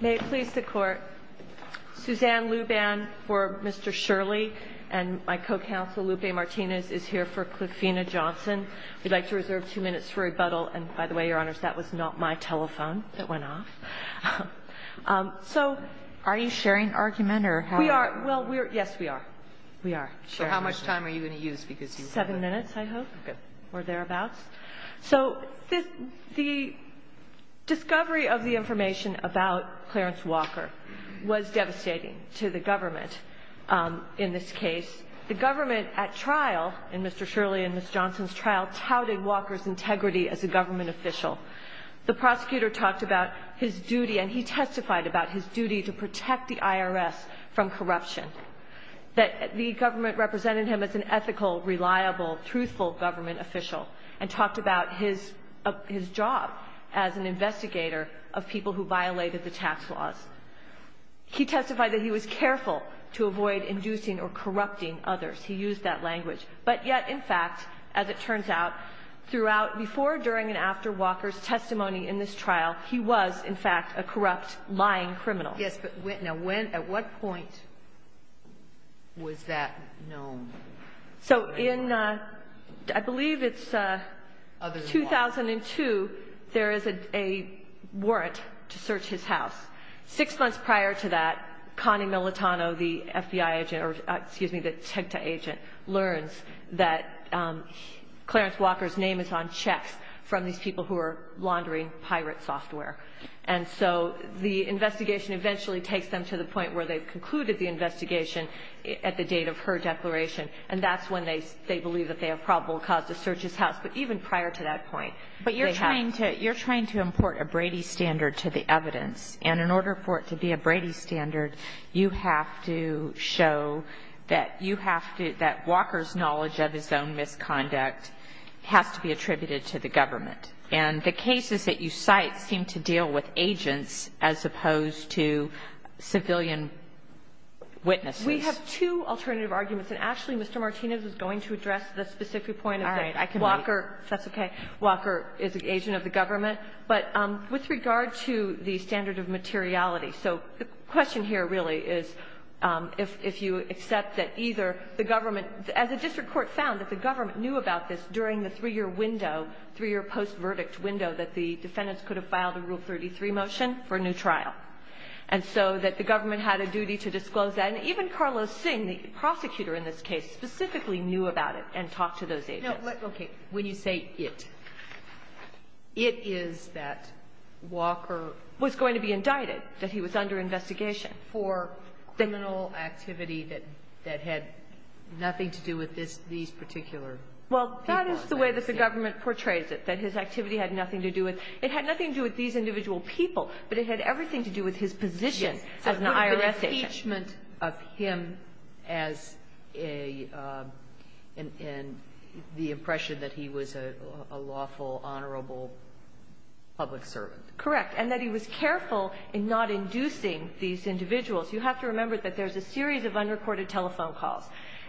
May it please the court. Suzanne Luban for Mr. Shirley and my co-counsel Lupe Martinez is here for Cliffina Johnson. We'd like to reserve two minutes for rebuttal. And by the way, your honors, that was not my telephone that went off. So are you sharing argument or we are? Well, we're yes, we are. We are. So how much time are you going to use? Because seven minutes, I hope, or thereabouts. So the discovery of the information about Clarence Walker was devastating to the government in this case. The government at trial in Mr. Shirley and Ms. Johnson's trial touted Walker's integrity as a government official. The prosecutor talked about his duty and he testified about his duty to protect the IRS from corruption. That the government represented him as an ethical, reliable, truthful government official, and talked about his job as an investigator of people who violated the tax laws. He testified that he was careful to avoid inducing or corrupting others. He used that language. But yet, in fact, as it turns out, throughout, before, during, and after Walker's testimony in this trial, he was, in fact, a corrupt, lying criminal. Yes, but when, at what point was that known? So in, I believe it's 2002, there is a warrant to search his house. Six months prior to that, Connie Militano, the FBI agent, or excuse me, the TICTA agent, learns that Clarence Walker's name is on checks from these people who are laundering pirate software. And so the investigation eventually takes them to the point where they've concluded the investigation at the date of her declaration. And that's when they believe that they have probable cause to search his house. But even prior to that point, they have. But you're trying to import a Brady standard to the evidence. And in order for it to be a Brady standard, you have to show that you have to, that Walker's knowledge of his own misconduct has to be attributed to the government. And the cases that you cite seem to deal with agents as opposed to civilian witnesses. We have two alternative arguments. And, Ashley, Mr. Martinez is going to address the specific point of that. All right. I can wait. Walker, if that's okay, Walker is an agent of the government. But with regard to the standard of materiality, so the question here really is if you knew about this during the three-year window, three-year post-verdict window, that the defendants could have filed a Rule 33 motion for a new trial, and so that the government had a duty to disclose that. And even Carlos Singh, the prosecutor in this case, specifically knew about it and talked to those agents. No, but, okay. When you say it, it is that Walker was going to be indicted, that he was under investigation for criminal activity that had nothing to do with these particular people. Well, that is the way that the government portrays it, that his activity had nothing to do with – it had nothing to do with these individual people, but it had everything to do with his position as an IRS agent. Yes. An impeachment of him as a – and the impression that he was a lawful, honorable public servant. Correct. And that he was careful in not inducing these individuals. You have to remember that there's a series of unrecorded telephone calls.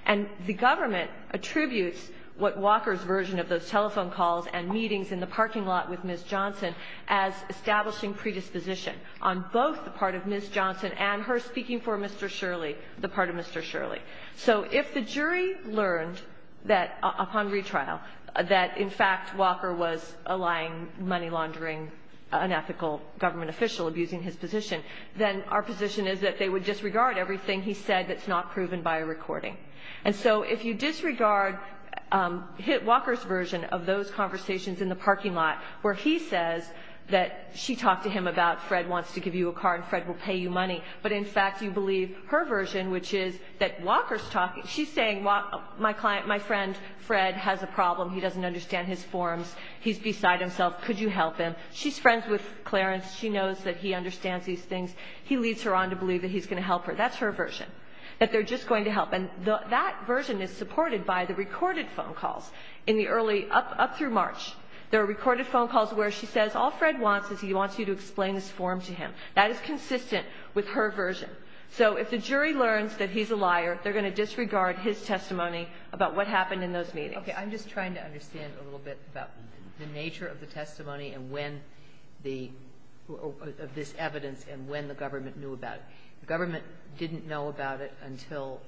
And the government attributes what Walker's version of those telephone calls and meetings in the parking lot with Ms. Johnson as establishing predisposition on both the part of Ms. Johnson and her speaking for Mr. Shirley, the part of Mr. Shirley. So if the jury learned that – upon retrial – that, in fact, Walker was allying money laundering, unethical government official abusing his position, then our position is that they would disregard everything he said that's not proven by a recording. And so if you disregard Walker's version of those conversations in the parking lot where he says that she talked to him about Fred wants to give you a car and Fred will pay you money, but, in fact, you believe her version, which is that Walker's talking – she's saying my friend Fred has a problem. He doesn't understand his forms. He's beside himself. Could you help him? She's friends with Clarence. She knows that he understands these things. He leads her on to believe that he's going to help her. That's her version, that they're just going to help. And that version is supported by the recorded phone calls in the early – up through March. There are recorded phone calls where she says all Fred wants is he wants you to explain his form to him. That is consistent with her version. So if the jury learns that he's a liar, they're going to disregard his testimony about what happened in those meetings. Okay. I'm just trying to understand a little bit about the nature of the testimony and when the – of this evidence and when the government knew about it. The government didn't know about it until,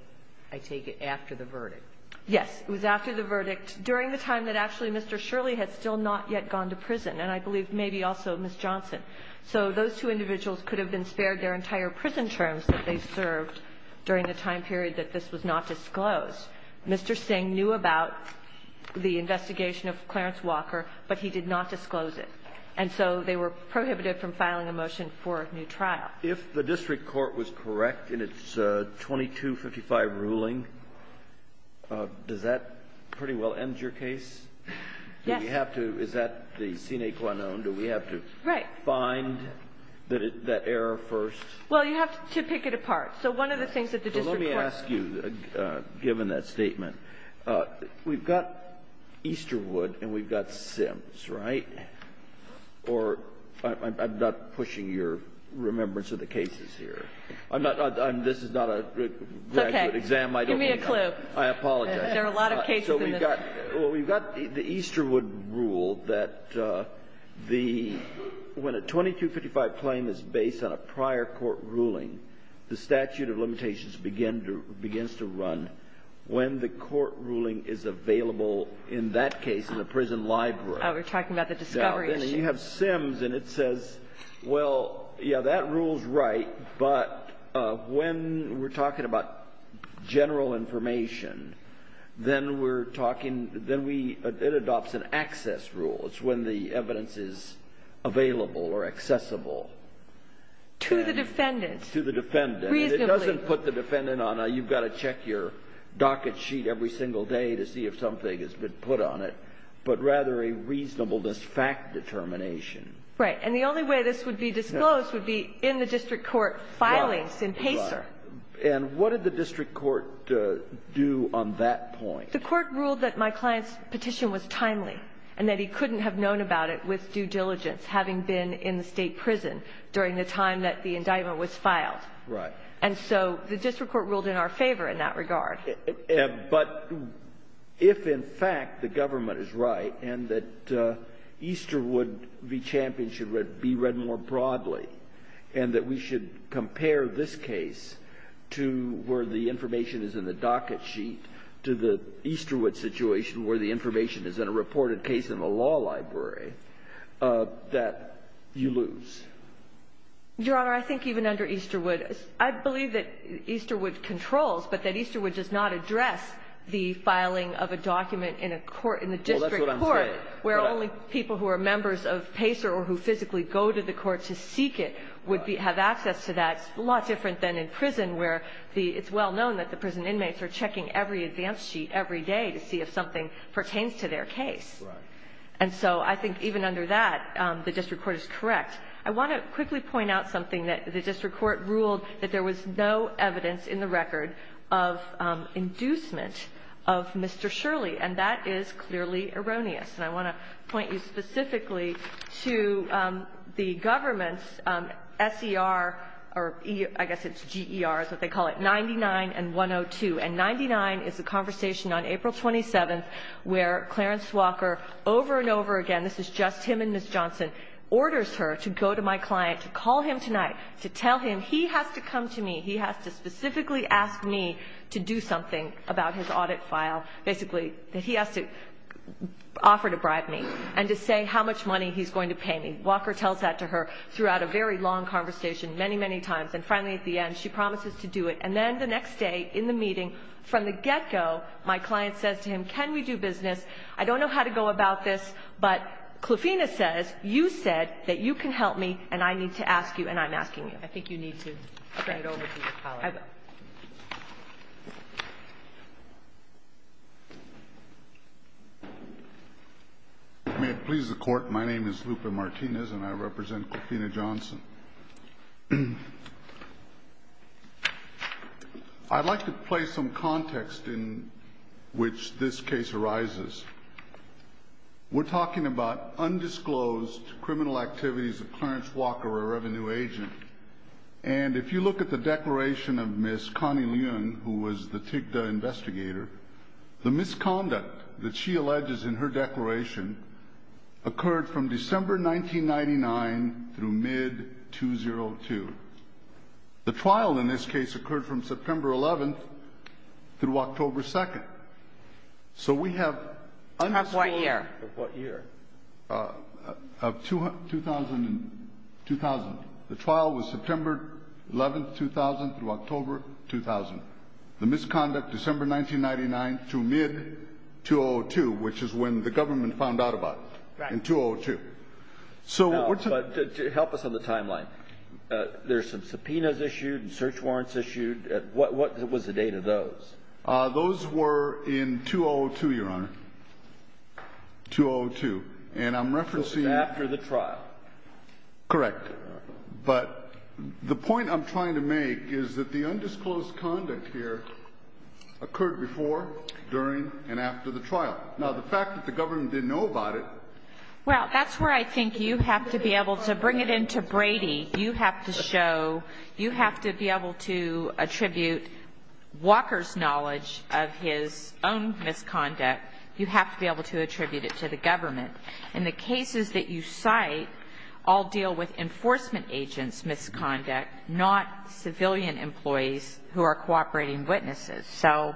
I take it, after the verdict. Yes. It was after the verdict, during the time that actually Mr. Shirley had still not yet gone to prison, and I believe maybe also Ms. Johnson. So those two individuals could have been spared their entire prison terms that they served during the time period that this was not disclosed. Mr. Singh knew about the investigation of Clarence Walker, but he did not disclose it. And so they were prohibited from filing a motion for a new trial. If the district court was correct in its 2255 ruling, does that pretty well end your case? Yes. Do we have to – is that the sine qua non? Do we have to find that error first? So one of the things that the district court – Well, let me ask you, given that statement, we've got Easterwood and we've got Sims, right? Or – I'm not pushing your remembrance of the cases here. I'm not – this is not a graduate exam. Okay. Give me a clue. I apologize. There are a lot of cases in this. So we've got – well, we've got the Easterwood rule that the – when a 2255 claim is based on a prior court ruling, the statute of limitations begins to run when the court ruling is available in that case in the prison library. Oh, we're talking about the discovery issue. Yeah. Then you have Sims, and it says, well, yeah, that rule's right, but when we're talking about general information, then we're talking – then we – it adopts an access rule. It's when the evidence is available or accessible. To the defendant. To the defendant. Reasonably. And it doesn't put the defendant on a you've got to check your docket sheet every single day to see if something has been put on it, but rather a reasonableness fact determination. Right. And the only way this would be disclosed would be in the district court filings in PACER. Right. And what did the district court do on that point? The court ruled that my client's petition was timely and that he couldn't have known about it with due diligence, having been in the State prison during the time that the indictment was filed. Right. And so the district court ruled in our favor in that regard. But if, in fact, the government is right and that Easterwood v. Champion should be read more broadly and that we should compare this case to where the information is in the docket sheet to the Easterwood situation where the information is in a reported case in the law library, that you lose. Your Honor, I think even under Easterwood, I believe that Easterwood controls, but that Easterwood does not address the filing of a document in a court, in the district court. Well, that's what I'm saying. Where only people who are members of PACER or who physically go to the court to seek it would have access to that. It's a lot different than in prison where it's well known that the prison inmates are checking every advance sheet every day to see if something pertains to their case. Right. And so I think even under that, the district court is correct. I want to quickly point out something that the district court ruled that there was no evidence in the record of inducement of Mr. Shirley, and that is clearly erroneous. And I want to point you specifically to the government's S.E.R. or I guess it's G.E.R. is what they call it, 99 and 102. And 99 is a conversation on April 27th where Clarence Walker over and over again, this is just him and Ms. Johnson, orders her to go to my client to call him tonight to tell him he has to come to me. He has to specifically ask me to do something about his audit file. Basically, he has to offer to bribe me and to say how much money he's going to pay me. Walker tells that to her throughout a very long conversation many, many times. And finally at the end, she promises to do it. And then the next day in the meeting, from the get-go, my client says to him, can we do business? I don't know how to go about this, but Klafina says, you said that you can help me and I need to ask you and I'm asking you. I think you need to bring it over to your colleague. May it please the Court. My name is Lupe Martinez and I represent Klafina Johnson. I'd like to play some context in which this case arises. We're talking about undisclosed criminal activities of Clarence Walker, a revenue agent. And if you look at the declaration of Ms. Connie Leung, who was the TIGDA investigator, the misconduct that she alleges in her declaration occurred from December 1999 through mid-2002. The trial in this case occurred from September 11th through October 2nd. So we have undisclosed... Of what year? Of what year? Of 2000. The trial was September 11th, 2000 through October 2000. The misconduct, December 1999 through mid-2002, which is when the government found out about it. Right. In 2002. Help us on the timeline. There's some subpoenas issued and search warrants issued. What was the date of those? Those were in 2002, Your Honor. 2002. And I'm referencing... So it was after the trial. Correct. But the point I'm trying to make is that the undisclosed conduct here occurred before, during, and after the trial. Now, the fact that the government didn't know about it... Well, that's where I think you have to be able to bring it in to Brady. You have to be able to attribute Walker's knowledge of his own misconduct. You have to be able to attribute it to the government. And the cases that you cite all deal with enforcement agents' misconduct, not civilian employees who are cooperating witnesses. So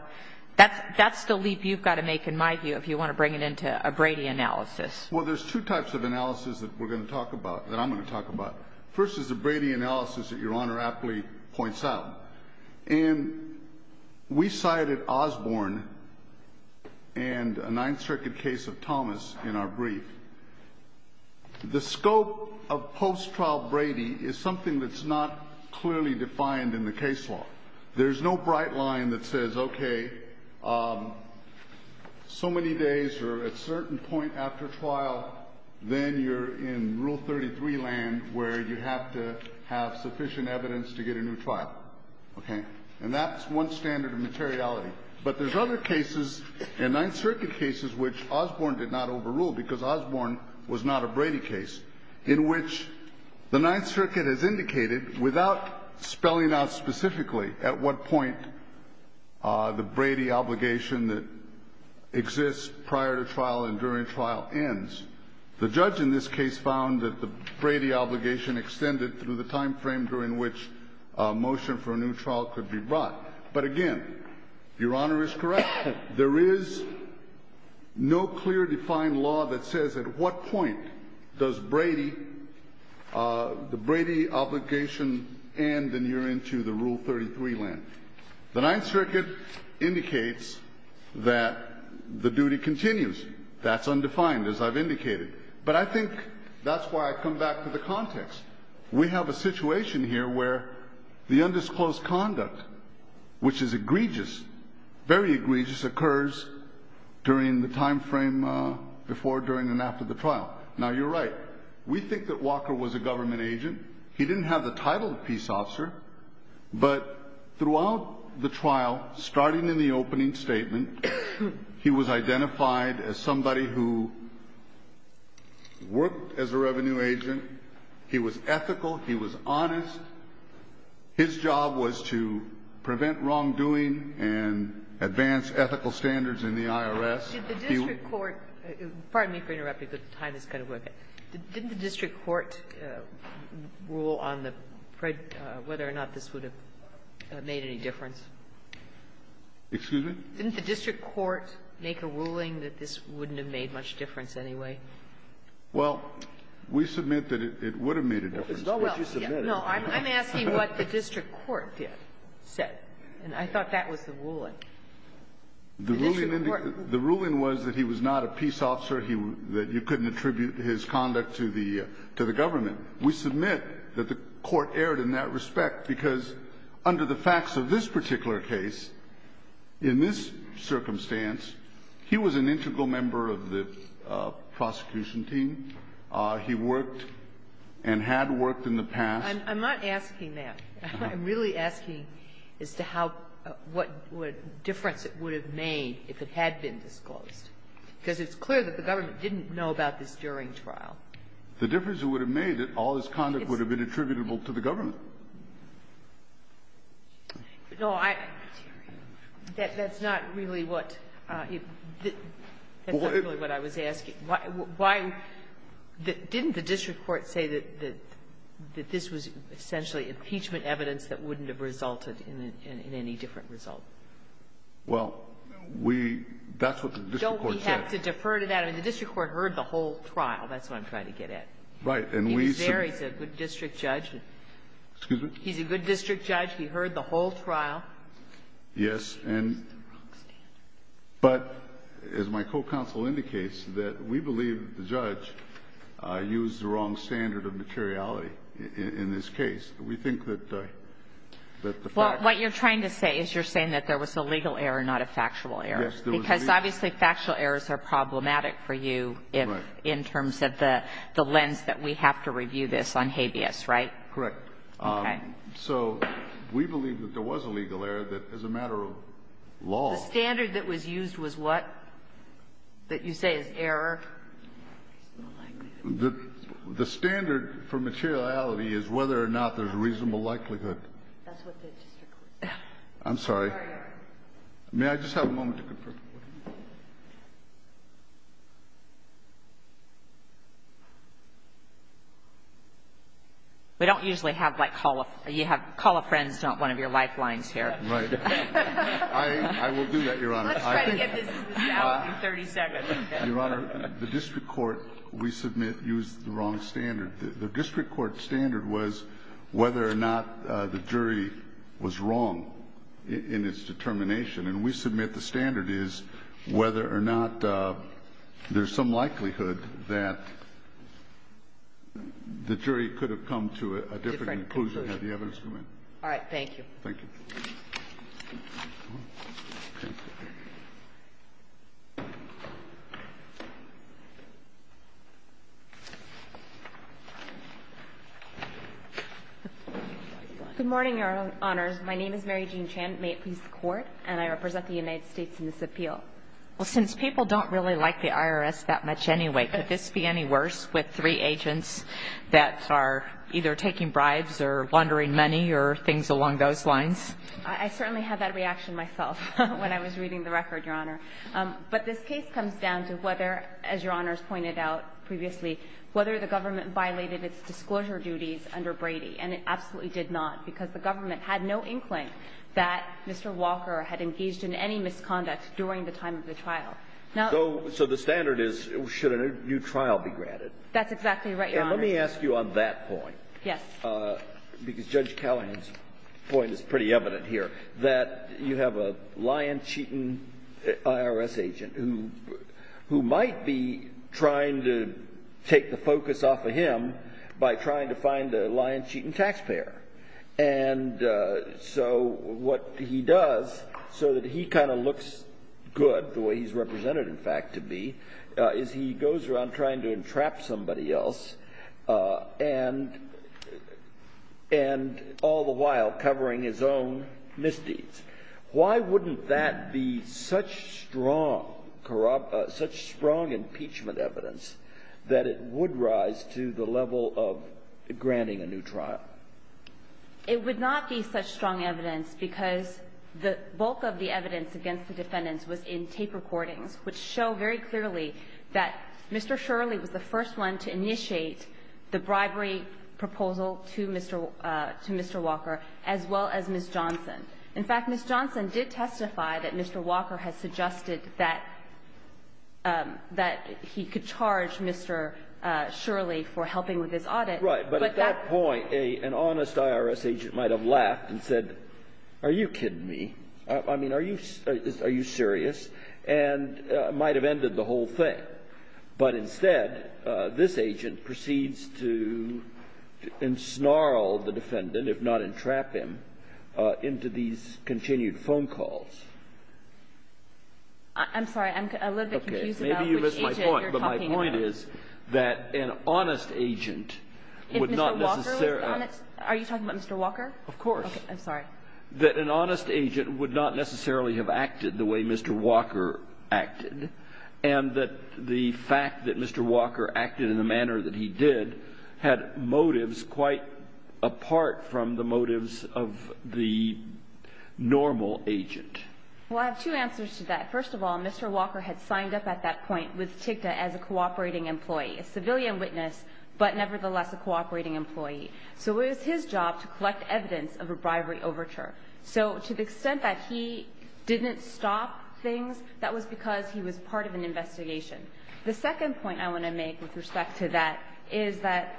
that's the leap you've got to make, in my view, if you want to bring it in to a Brady analysis. Well, there's two types of analysis that we're going to talk about, that I'm going to talk about. First is the Brady analysis that Your Honor aptly points out. And we cited Osborne and a Ninth Circuit case of Thomas in our brief. The scope of post-trial Brady is something that's not clearly defined in the case law. There's no bright line that says, okay, so many days or at a certain point after trial, then you're in Rule 33 land where you have to have sufficient evidence to get a new trial. Okay? And that's one standard of materiality. But there's other cases, and Ninth Circuit cases, which Osborne did not overrule because Osborne was not a Brady case, in which the Ninth Circuit has indicated without spelling out specifically at what point the Brady obligation that exists prior to trial and during trial ends. The judge in this case found that the Brady obligation extended through the time frame during which a motion for a new trial could be brought. But, again, Your Honor is correct. There is no clear defined law that says at what point does Brady, the Brady obligation end and you're into the Rule 33 land. The Ninth Circuit indicates that the duty continues. That's undefined, as I've indicated. But I think that's why I come back to the context. We have a situation here where the undisclosed conduct, which is egregious, very egregious, occurs during the time frame before, during, and after the trial. Now, you're right. We think that Walker was a government agent. He didn't have the title of peace officer. But throughout the trial, starting in the opening statement, he was identified as somebody who worked as a revenue agent. He was ethical. He was honest. His job was to prevent wrongdoing and advance ethical standards in the IRS. He was. Kagan. Did the district court rule on whether or not this would have made any difference? Excuse me? Didn't the district court make a ruling that this wouldn't have made much difference anyway? Well, we submit that it would have made a difference. It's not what you submitted. No. I'm asking what the district court said. And I thought that was the ruling. The district court. The ruling was that he was not a peace officer, that you couldn't attribute his conduct to the government. We submit that the court erred in that respect, because under the facts of this particular case, in this circumstance, he was an integral member of the prosecution team. He worked and had worked in the past. I'm not asking that. I'm really asking as to how what difference it would have made if it had been disclosed. Because it's clear that the government didn't know about this during trial. The difference it would have made, all his conduct would have been attributable to the government. No, I don't hear you. That's not really what I was asking. Why didn't the district court say that this was essentially impeachment evidence that wouldn't have resulted in any different result? Well, that's what the district court said. Don't we have to defer to that? I mean, the district court heard the whole trial. That's what I'm trying to get at. Right. He was there. He's a good district judge. Excuse me? He's a good district judge. He heard the whole trial. Yes. But as my co-counsel indicates, that we believe the judge used the wrong standard of materiality in this case. We think that the fact of the matter is that there was a legal error, not a factual error. Yes, there was a legal error. Because obviously factual errors are problematic for you in terms of the lens that we have to review this on habeas, right? Correct. Okay. So we believe that there was a legal error that is a matter of law. The standard that was used was what? That you say is error? The standard for materiality is whether or not there's a reasonable likelihood. That's what the district court said. I'm sorry. May I just have a moment to confirm? We don't usually have, like, call a friend is not one of your lifelines here. Right. I will do that, Your Honor. Let's try to get this in the ballot in 30 seconds. Your Honor, the district court, we submit, used the wrong standard. The district court standard was whether or not the jury was wrong in its determination. And we submit the standard is whether or not there's some likelihood that the jury could have come to a different conclusion had the evidence come in. All right. Thank you. Thank you. Good morning, Your Honors. My name is Mary Jean Chan. And I represent the United States in this appeal. Well, since people don't really like the IRS that much anyway, could this be any worse with three agents that are either taking bribes or laundering money or things along those lines? I certainly had that reaction myself when I was reading the record, Your Honor. But this case comes down to whether, as Your Honors pointed out previously, whether the government violated its disclosure duties under Brady. And it absolutely did not because the government had no inkling that Mr. Walker had engaged in any misconduct during the time of the trial. So the standard is should a new trial be granted? That's exactly right, Your Honor. And let me ask you on that point. Yes. Because Judge Callahan's point is pretty evident here, that you have a lion-cheating IRS agent who might be trying to take the focus off of him by trying to find a lion-cheating taxpayer. And so what he does so that he kind of looks good, the way he's represented, in fact, to be, is he goes around trying to entrap somebody else and all the while covering his own misdeeds. Why wouldn't that be such strong impeachment evidence that it would rise to the level of It would not be such strong evidence because the bulk of the evidence against the defendants was in tape recordings which show very clearly that Mr. Shirley was the first one to initiate the bribery proposal to Mr. Walker as well as Ms. Johnson. In fact, Ms. Johnson did testify that Mr. Walker had suggested that he could charge Mr. Shirley for helping with his audit. Right. But at that point, an honest IRS agent might have laughed and said, are you kidding me? I mean, are you serious? And might have ended the whole thing. But instead, this agent proceeds to ensnarl the defendant, if not entrap him, into these continued phone calls. I'm sorry. I'm a little bit confused about which agent you're talking about. The point is that an honest agent would not necessarily Are you talking about Mr. Walker? Of course. I'm sorry. That an honest agent would not necessarily have acted the way Mr. Walker acted and that the fact that Mr. Walker acted in the manner that he did had motives quite apart from the motives of the normal agent. Well, I have two answers to that. First of all, Mr. Walker had signed up at that point with TIGTA as a cooperating employee, a civilian witness, but nevertheless a cooperating employee. So it was his job to collect evidence of a bribery overture. So to the extent that he didn't stop things, that was because he was part of an investigation. The second point I want to make with respect to that is that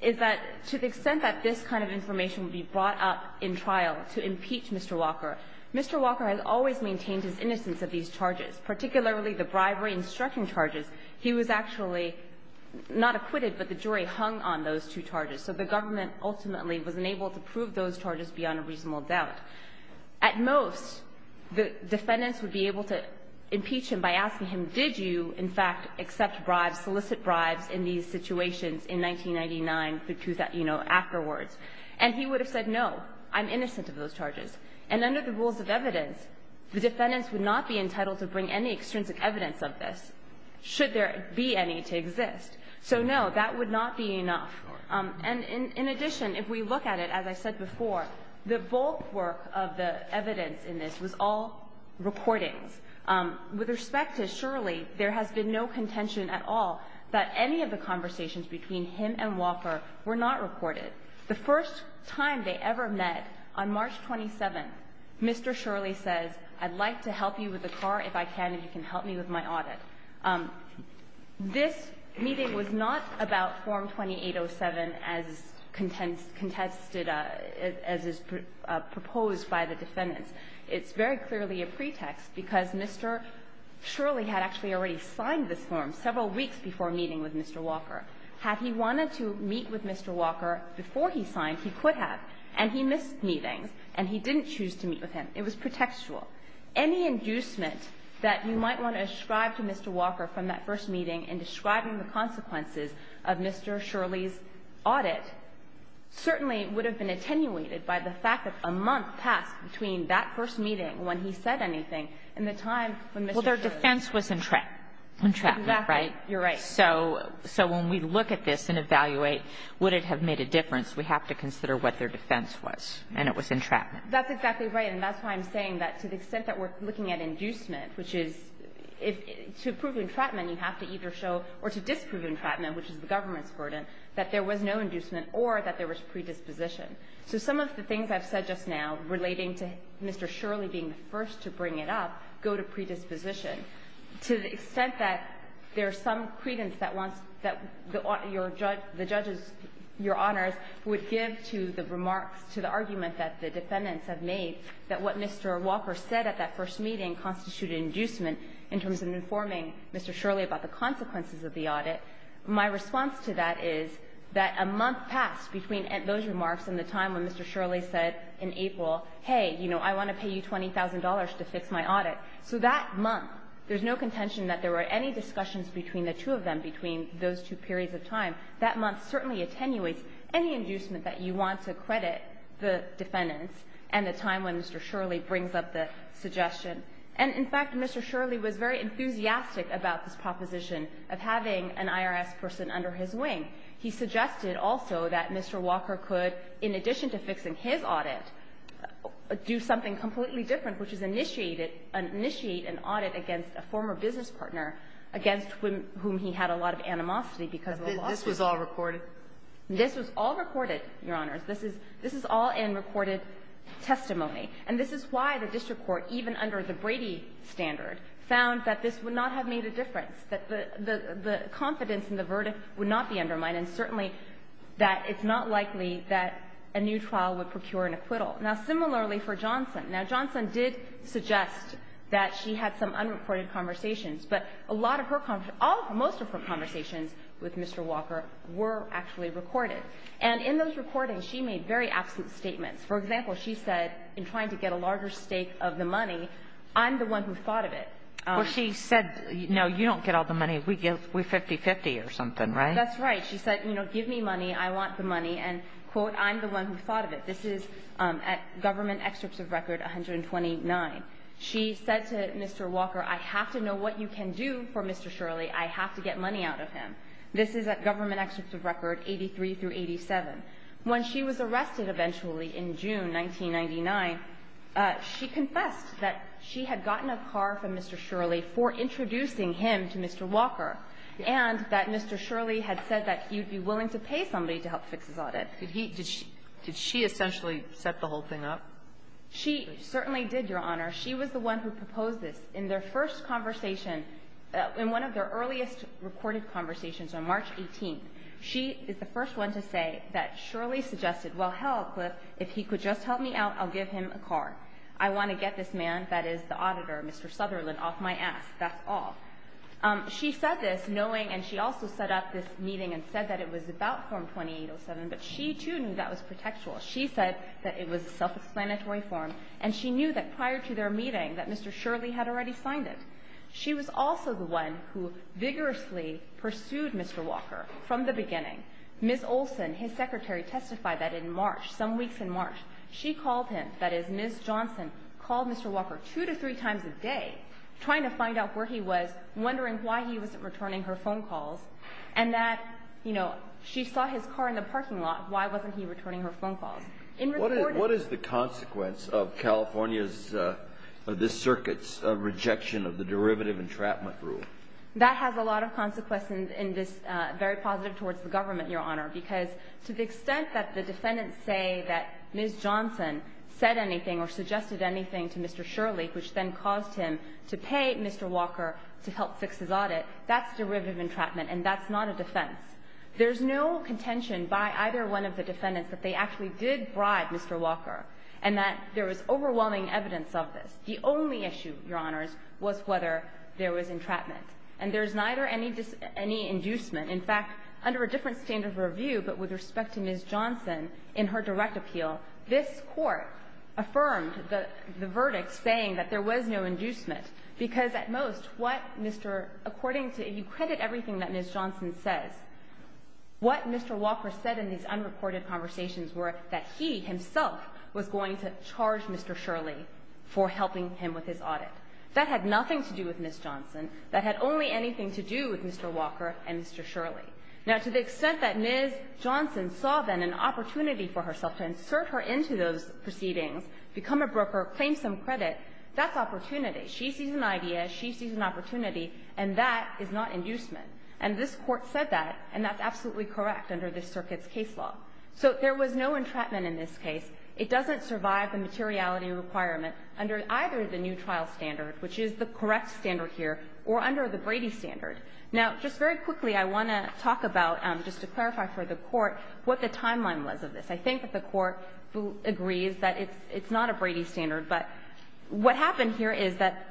to the extent that this kind of information would be brought up in trial to impeach Mr. Walker, Mr. Walker has always maintained his innocence of these charges, particularly the bribery and striking charges. He was actually not acquitted, but the jury hung on those two charges. So the government ultimately was unable to prove those charges beyond a reasonable doubt. At most, the defendants would be able to impeach him by asking him, did you, in fact, accept bribes, solicit bribes in these situations in 1999 through, you know, afterwards? And he would have said, no, I'm innocent of those charges. And under the rules of evidence, the defendants would not be entitled to bring any extrinsic evidence of this should there be any to exist. So, no, that would not be enough. And in addition, if we look at it, as I said before, the bulk work of the evidence in this was all recordings. With respect to Shirley, there has been no contention at all that any of the conversations between him and Walker were not recorded. The first time they ever met on March 27, Mr. Shirley says, I'd like to help you with the car if I can, and you can help me with my audit. This meeting was not about Form 2807 as contested as is proposed by the defendants. It's very clearly a pretext, because Mr. Shirley had actually already signed this form several weeks before meeting with Mr. Walker. Had he wanted to meet with Mr. Walker before he signed, he could have, and he missed meetings, and he didn't choose to meet with him. It was pretextual. Any inducement that you might want to ascribe to Mr. Walker from that first meeting in describing the consequences of Mr. Shirley's audit certainly would have been attenuated by the fact that a month passed between that first meeting when he said anything and the time when Mr. Shirley said anything. And that's why I'm saying that to the extent that we're looking at inducement, which is to prove entrapment, you have to either show or to disprove entrapment, which is the government's burden, that there was no inducement or that there was predisposition. So some of the things I've said just now relating to Mr. Shirley being the first to bring it up go to predisposition. And to the extent that there's some credence that wants the judge's, your Honor's, would give to the remarks, to the argument that the defendants have made, that what Mr. Walker said at that first meeting constituted inducement in terms of informing Mr. Shirley about the consequences of the audit. My response to that is that a month passed between those remarks and the time when Mr. Shirley said in April, hey, you know, I want to pay you $20,000 to fix my audit. So that month, there's no contention that there were any discussions between the two of them between those two periods of time. That month certainly attenuates any inducement that you want to credit the defendants and the time when Mr. Shirley brings up the suggestion. And, in fact, Mr. Shirley was very enthusiastic about this proposition of having an IRS person under his wing. He suggested also that Mr. Walker could, in addition to fixing his audit, do something completely different, which is initiate an audit against a former business partner against whom he had a lot of animosity because of the lawsuit. This was all recorded? This was all recorded, Your Honors. This is all in recorded testimony. And this is why the district court, even under the Brady standard, found that this would not have made a difference, that the confidence in the verdict would not be undermined, and certainly that it's not likely that a new trial would procure an acquittal. Now, similarly for Johnson. Now, Johnson did suggest that she had some unrecorded conversations, but a lot of her conversations, most of her conversations with Mr. Walker were actually recorded. And in those recordings, she made very absent statements. For example, she said, in trying to get a larger stake of the money, I'm the one who thought of it. Well, she said, no, you don't get all the money. We 50-50 or something, right? That's right. She said, you know, give me money. I want the money. And, quote, I'm the one who thought of it. This is at government excerpts of record 129. She said to Mr. Walker, I have to know what you can do for Mr. Shirley. I have to get money out of him. This is at government excerpts of record 83 through 87. When she was arrested eventually in June 1999, she confessed that she had gotten a car from Mr. Shirley for introducing him to Mr. Walker, and that Mr. Shirley had said that he would be willing to pay somebody to help fix his audit. Did he – did she essentially set the whole thing up? She certainly did, Your Honor. She was the one who proposed this. In their first conversation, in one of their earliest recorded conversations on March 18th, she is the first one to say that Shirley suggested, well, hell, Cliff, if he could just help me out, I'll give him a car. I want to get this man, that is, the auditor, Mr. Sutherland, off my ass. That's all. She said this knowing, and she also set up this meeting and said that it was about reform 2807, but she too knew that was protectual. She said that it was a self-explanatory form, and she knew that prior to their meeting that Mr. Shirley had already signed it. She was also the one who vigorously pursued Mr. Walker from the beginning. Ms. Olson, his secretary, testified that in March, some weeks in March, she called him, that is, Ms. Johnson called Mr. Walker two to three times a day trying to find out where he was, wondering why he wasn't returning her phone calls, and that, you know, she saw his car in the parking lot. Why wasn't he returning her phone calls? In reporting ---- What is the consequence of California's, of this circuit's rejection of the derivative entrapment rule? That has a lot of consequences in this very positive towards the government, Your Honor, because to the extent that the defendants say that Ms. Johnson said anything or suggested anything to Mr. Shirley, which then caused him to pay Mr. Walker to help fix his audit, that's derivative entrapment, and that's not a defense. There's no contention by either one of the defendants that they actually did bribe Mr. Walker and that there was overwhelming evidence of this. The only issue, Your Honors, was whether there was entrapment. And there's neither any inducement. In fact, under a different standard of review, but with respect to Ms. Johnson in her direct appeal, this Court affirmed the verdict saying that there was no inducement, because at most, what Mr. ---- according to ---- if you credit everything that Ms. Johnson says, what Mr. Walker said in these unreported conversations were that he himself was going to charge Mr. Shirley for helping him with his audit. That had nothing to do with Ms. Johnson. That had only anything to do with Mr. Walker and Mr. Shirley. Now, to the extent that Ms. Johnson saw then an opportunity for herself to insert her into those proceedings, become a broker, claim some credit, that's opportunity. She sees an idea. She sees an opportunity. And that is not inducement. And this Court said that, and that's absolutely correct under this circuit's case law. So there was no entrapment in this case. It doesn't survive the materiality requirement under either the new trial standard, which is the correct standard here, or under the Brady standard. Now, just very quickly, I want to talk about, just to clarify for the Court, what the timeline was of this. I think that the Court agrees that it's not a Brady standard. But what happened here is that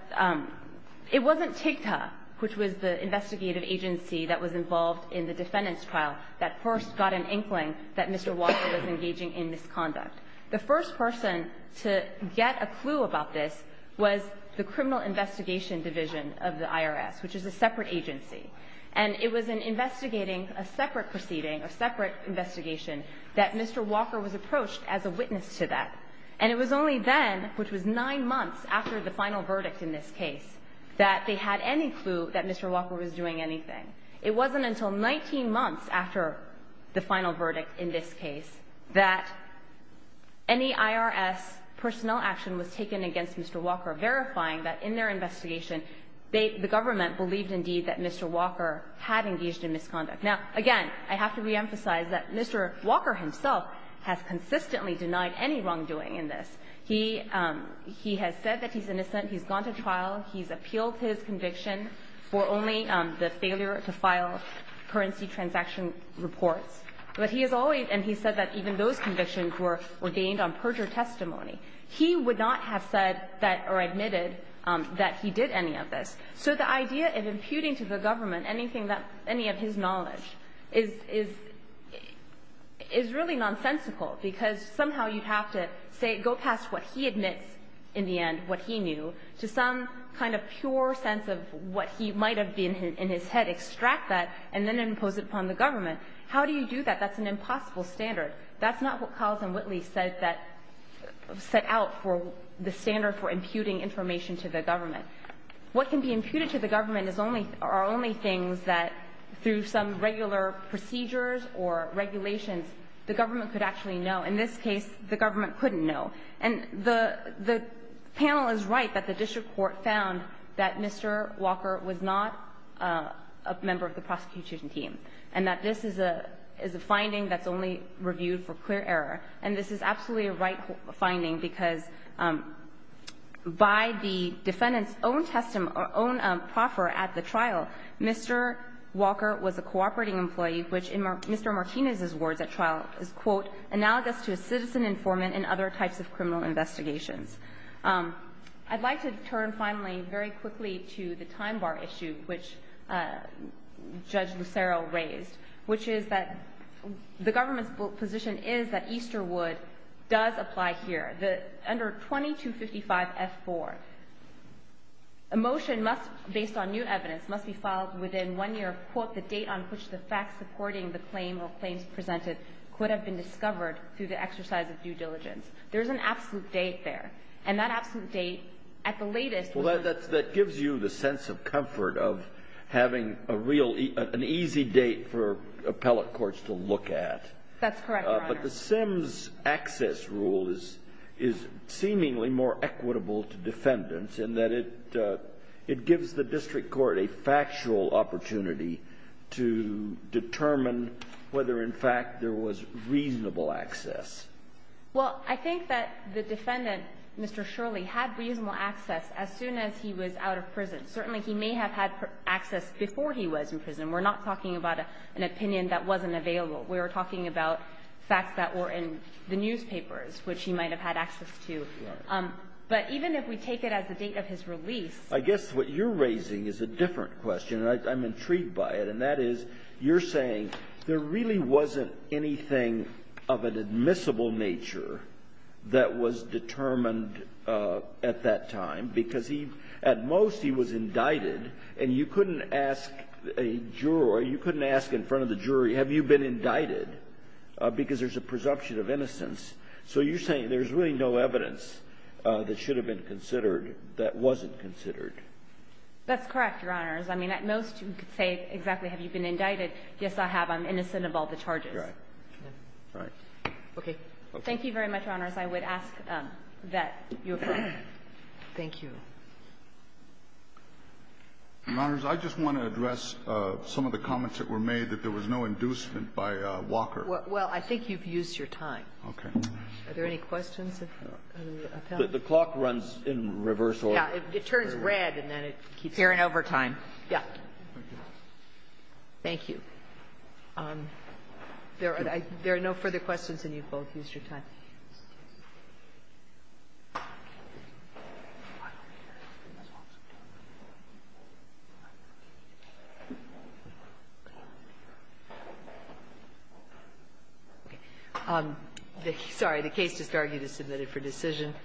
it wasn't TIGTA, which was the investigative agency that was involved in the defendant's trial, that first got an inkling that Mr. Walker was engaging in misconduct. The first person to get a clue about this was the Criminal Investigation Division of the IRS, which is a separate agency. And it was in investigating a separate proceeding, a separate investigation, that Mr. Walker was approached as a witness to that. And it was only then, which was nine months after the final verdict in this case, that they had any clue that Mr. Walker was doing anything. It wasn't until 19 months after the final verdict in this case that any IRS personnel action was taken against Mr. Walker, verifying that in their investigation the government believed indeed that Mr. Walker had engaged in misconduct. Now, again, I have to reemphasize that Mr. Walker himself has consistently denied any wrongdoing in this. He has said that he's innocent. He's gone to trial. He's appealed his conviction for only the failure to file currency transaction reports. But he has always – and he's said that even those convictions were ordained on perjure testimony. He would not have said that or admitted that he did any of this. So the idea of imputing to the government anything that – any of his knowledge is really nonsensical, because somehow you'd have to say – go past what he admits in the end, what he knew, to some kind of pure sense of what he might have been in his head, extract that, and then impose it upon the government. How do you do that? That's an impossible standard. That's not what Cowles and Whitley said that – set out for the standard for imputing information to the government. What can be imputed to the government is only – are only things that, through some regular procedures or regulations, the government could actually know. In this case, the government couldn't know. And the panel is right that the district court found that Mr. Walker was not a member of the prosecution team, and that this is a finding that's only reviewed for clear error. And this is absolutely a right finding, because by the defendant's own proffer at the trial, Mr. Walker was a cooperating employee, which in Mr. Martinez's words at trial is, quote, analogous to a citizen informant in other types of criminal investigations. I'd like to turn, finally, very quickly to the time bar issue which Judge Lucero raised, which is that the government's position is that Easterwood does apply here. Under 2255F4, a motion must – based on new evidence – must be filed within one year of, quote, the date on which the facts supporting the claim or claims presented could have been discovered through the exercise of due diligence. There's an absolute date there. And that absolute date, at the latest – That gives you the sense of comfort of having a real – an easy date for appellate courts to look at. That's correct, Your Honor. But the Sims access rule is seemingly more equitable to defendants in that it gives the district court a factual opportunity to determine whether, in fact, there was reasonable access. Well, I think that the defendant, Mr. Shirley, had reasonable access as soon as he was out of prison. Certainly, he may have had access before he was in prison. We're not talking about an opinion that wasn't available. We're talking about facts that were in the newspapers, which he might have had access to. Right. But even if we take it as the date of his release – I guess what you're raising is a different question, and I'm intrigued by it. And that is, you're saying there really wasn't anything of an admissible nature that was determined at that time, because he – at most, he was indicted, and you couldn't ask a juror – you couldn't ask in front of the jury, have you been indicted, because there's a presumption of innocence. So you're saying there's really no evidence that should have been considered that wasn't considered. That's correct, Your Honors. I mean, at most, you could say exactly, have you been indicted. Yes, I have. I'm innocent of all the charges. Right. Okay. Thank you very much, Your Honors. I would ask that you affirm. Thank you. Your Honors, I just want to address some of the comments that were made that there was no inducement by Walker. Well, I think you've used your time. Are there any questions? The clock runs in reverse order. Yeah. It turns red, and then it keeps going. We're in overtime. Yeah. Thank you. There are no further questions, and you've both used your time. Sorry. The case just argued is submitted for decision.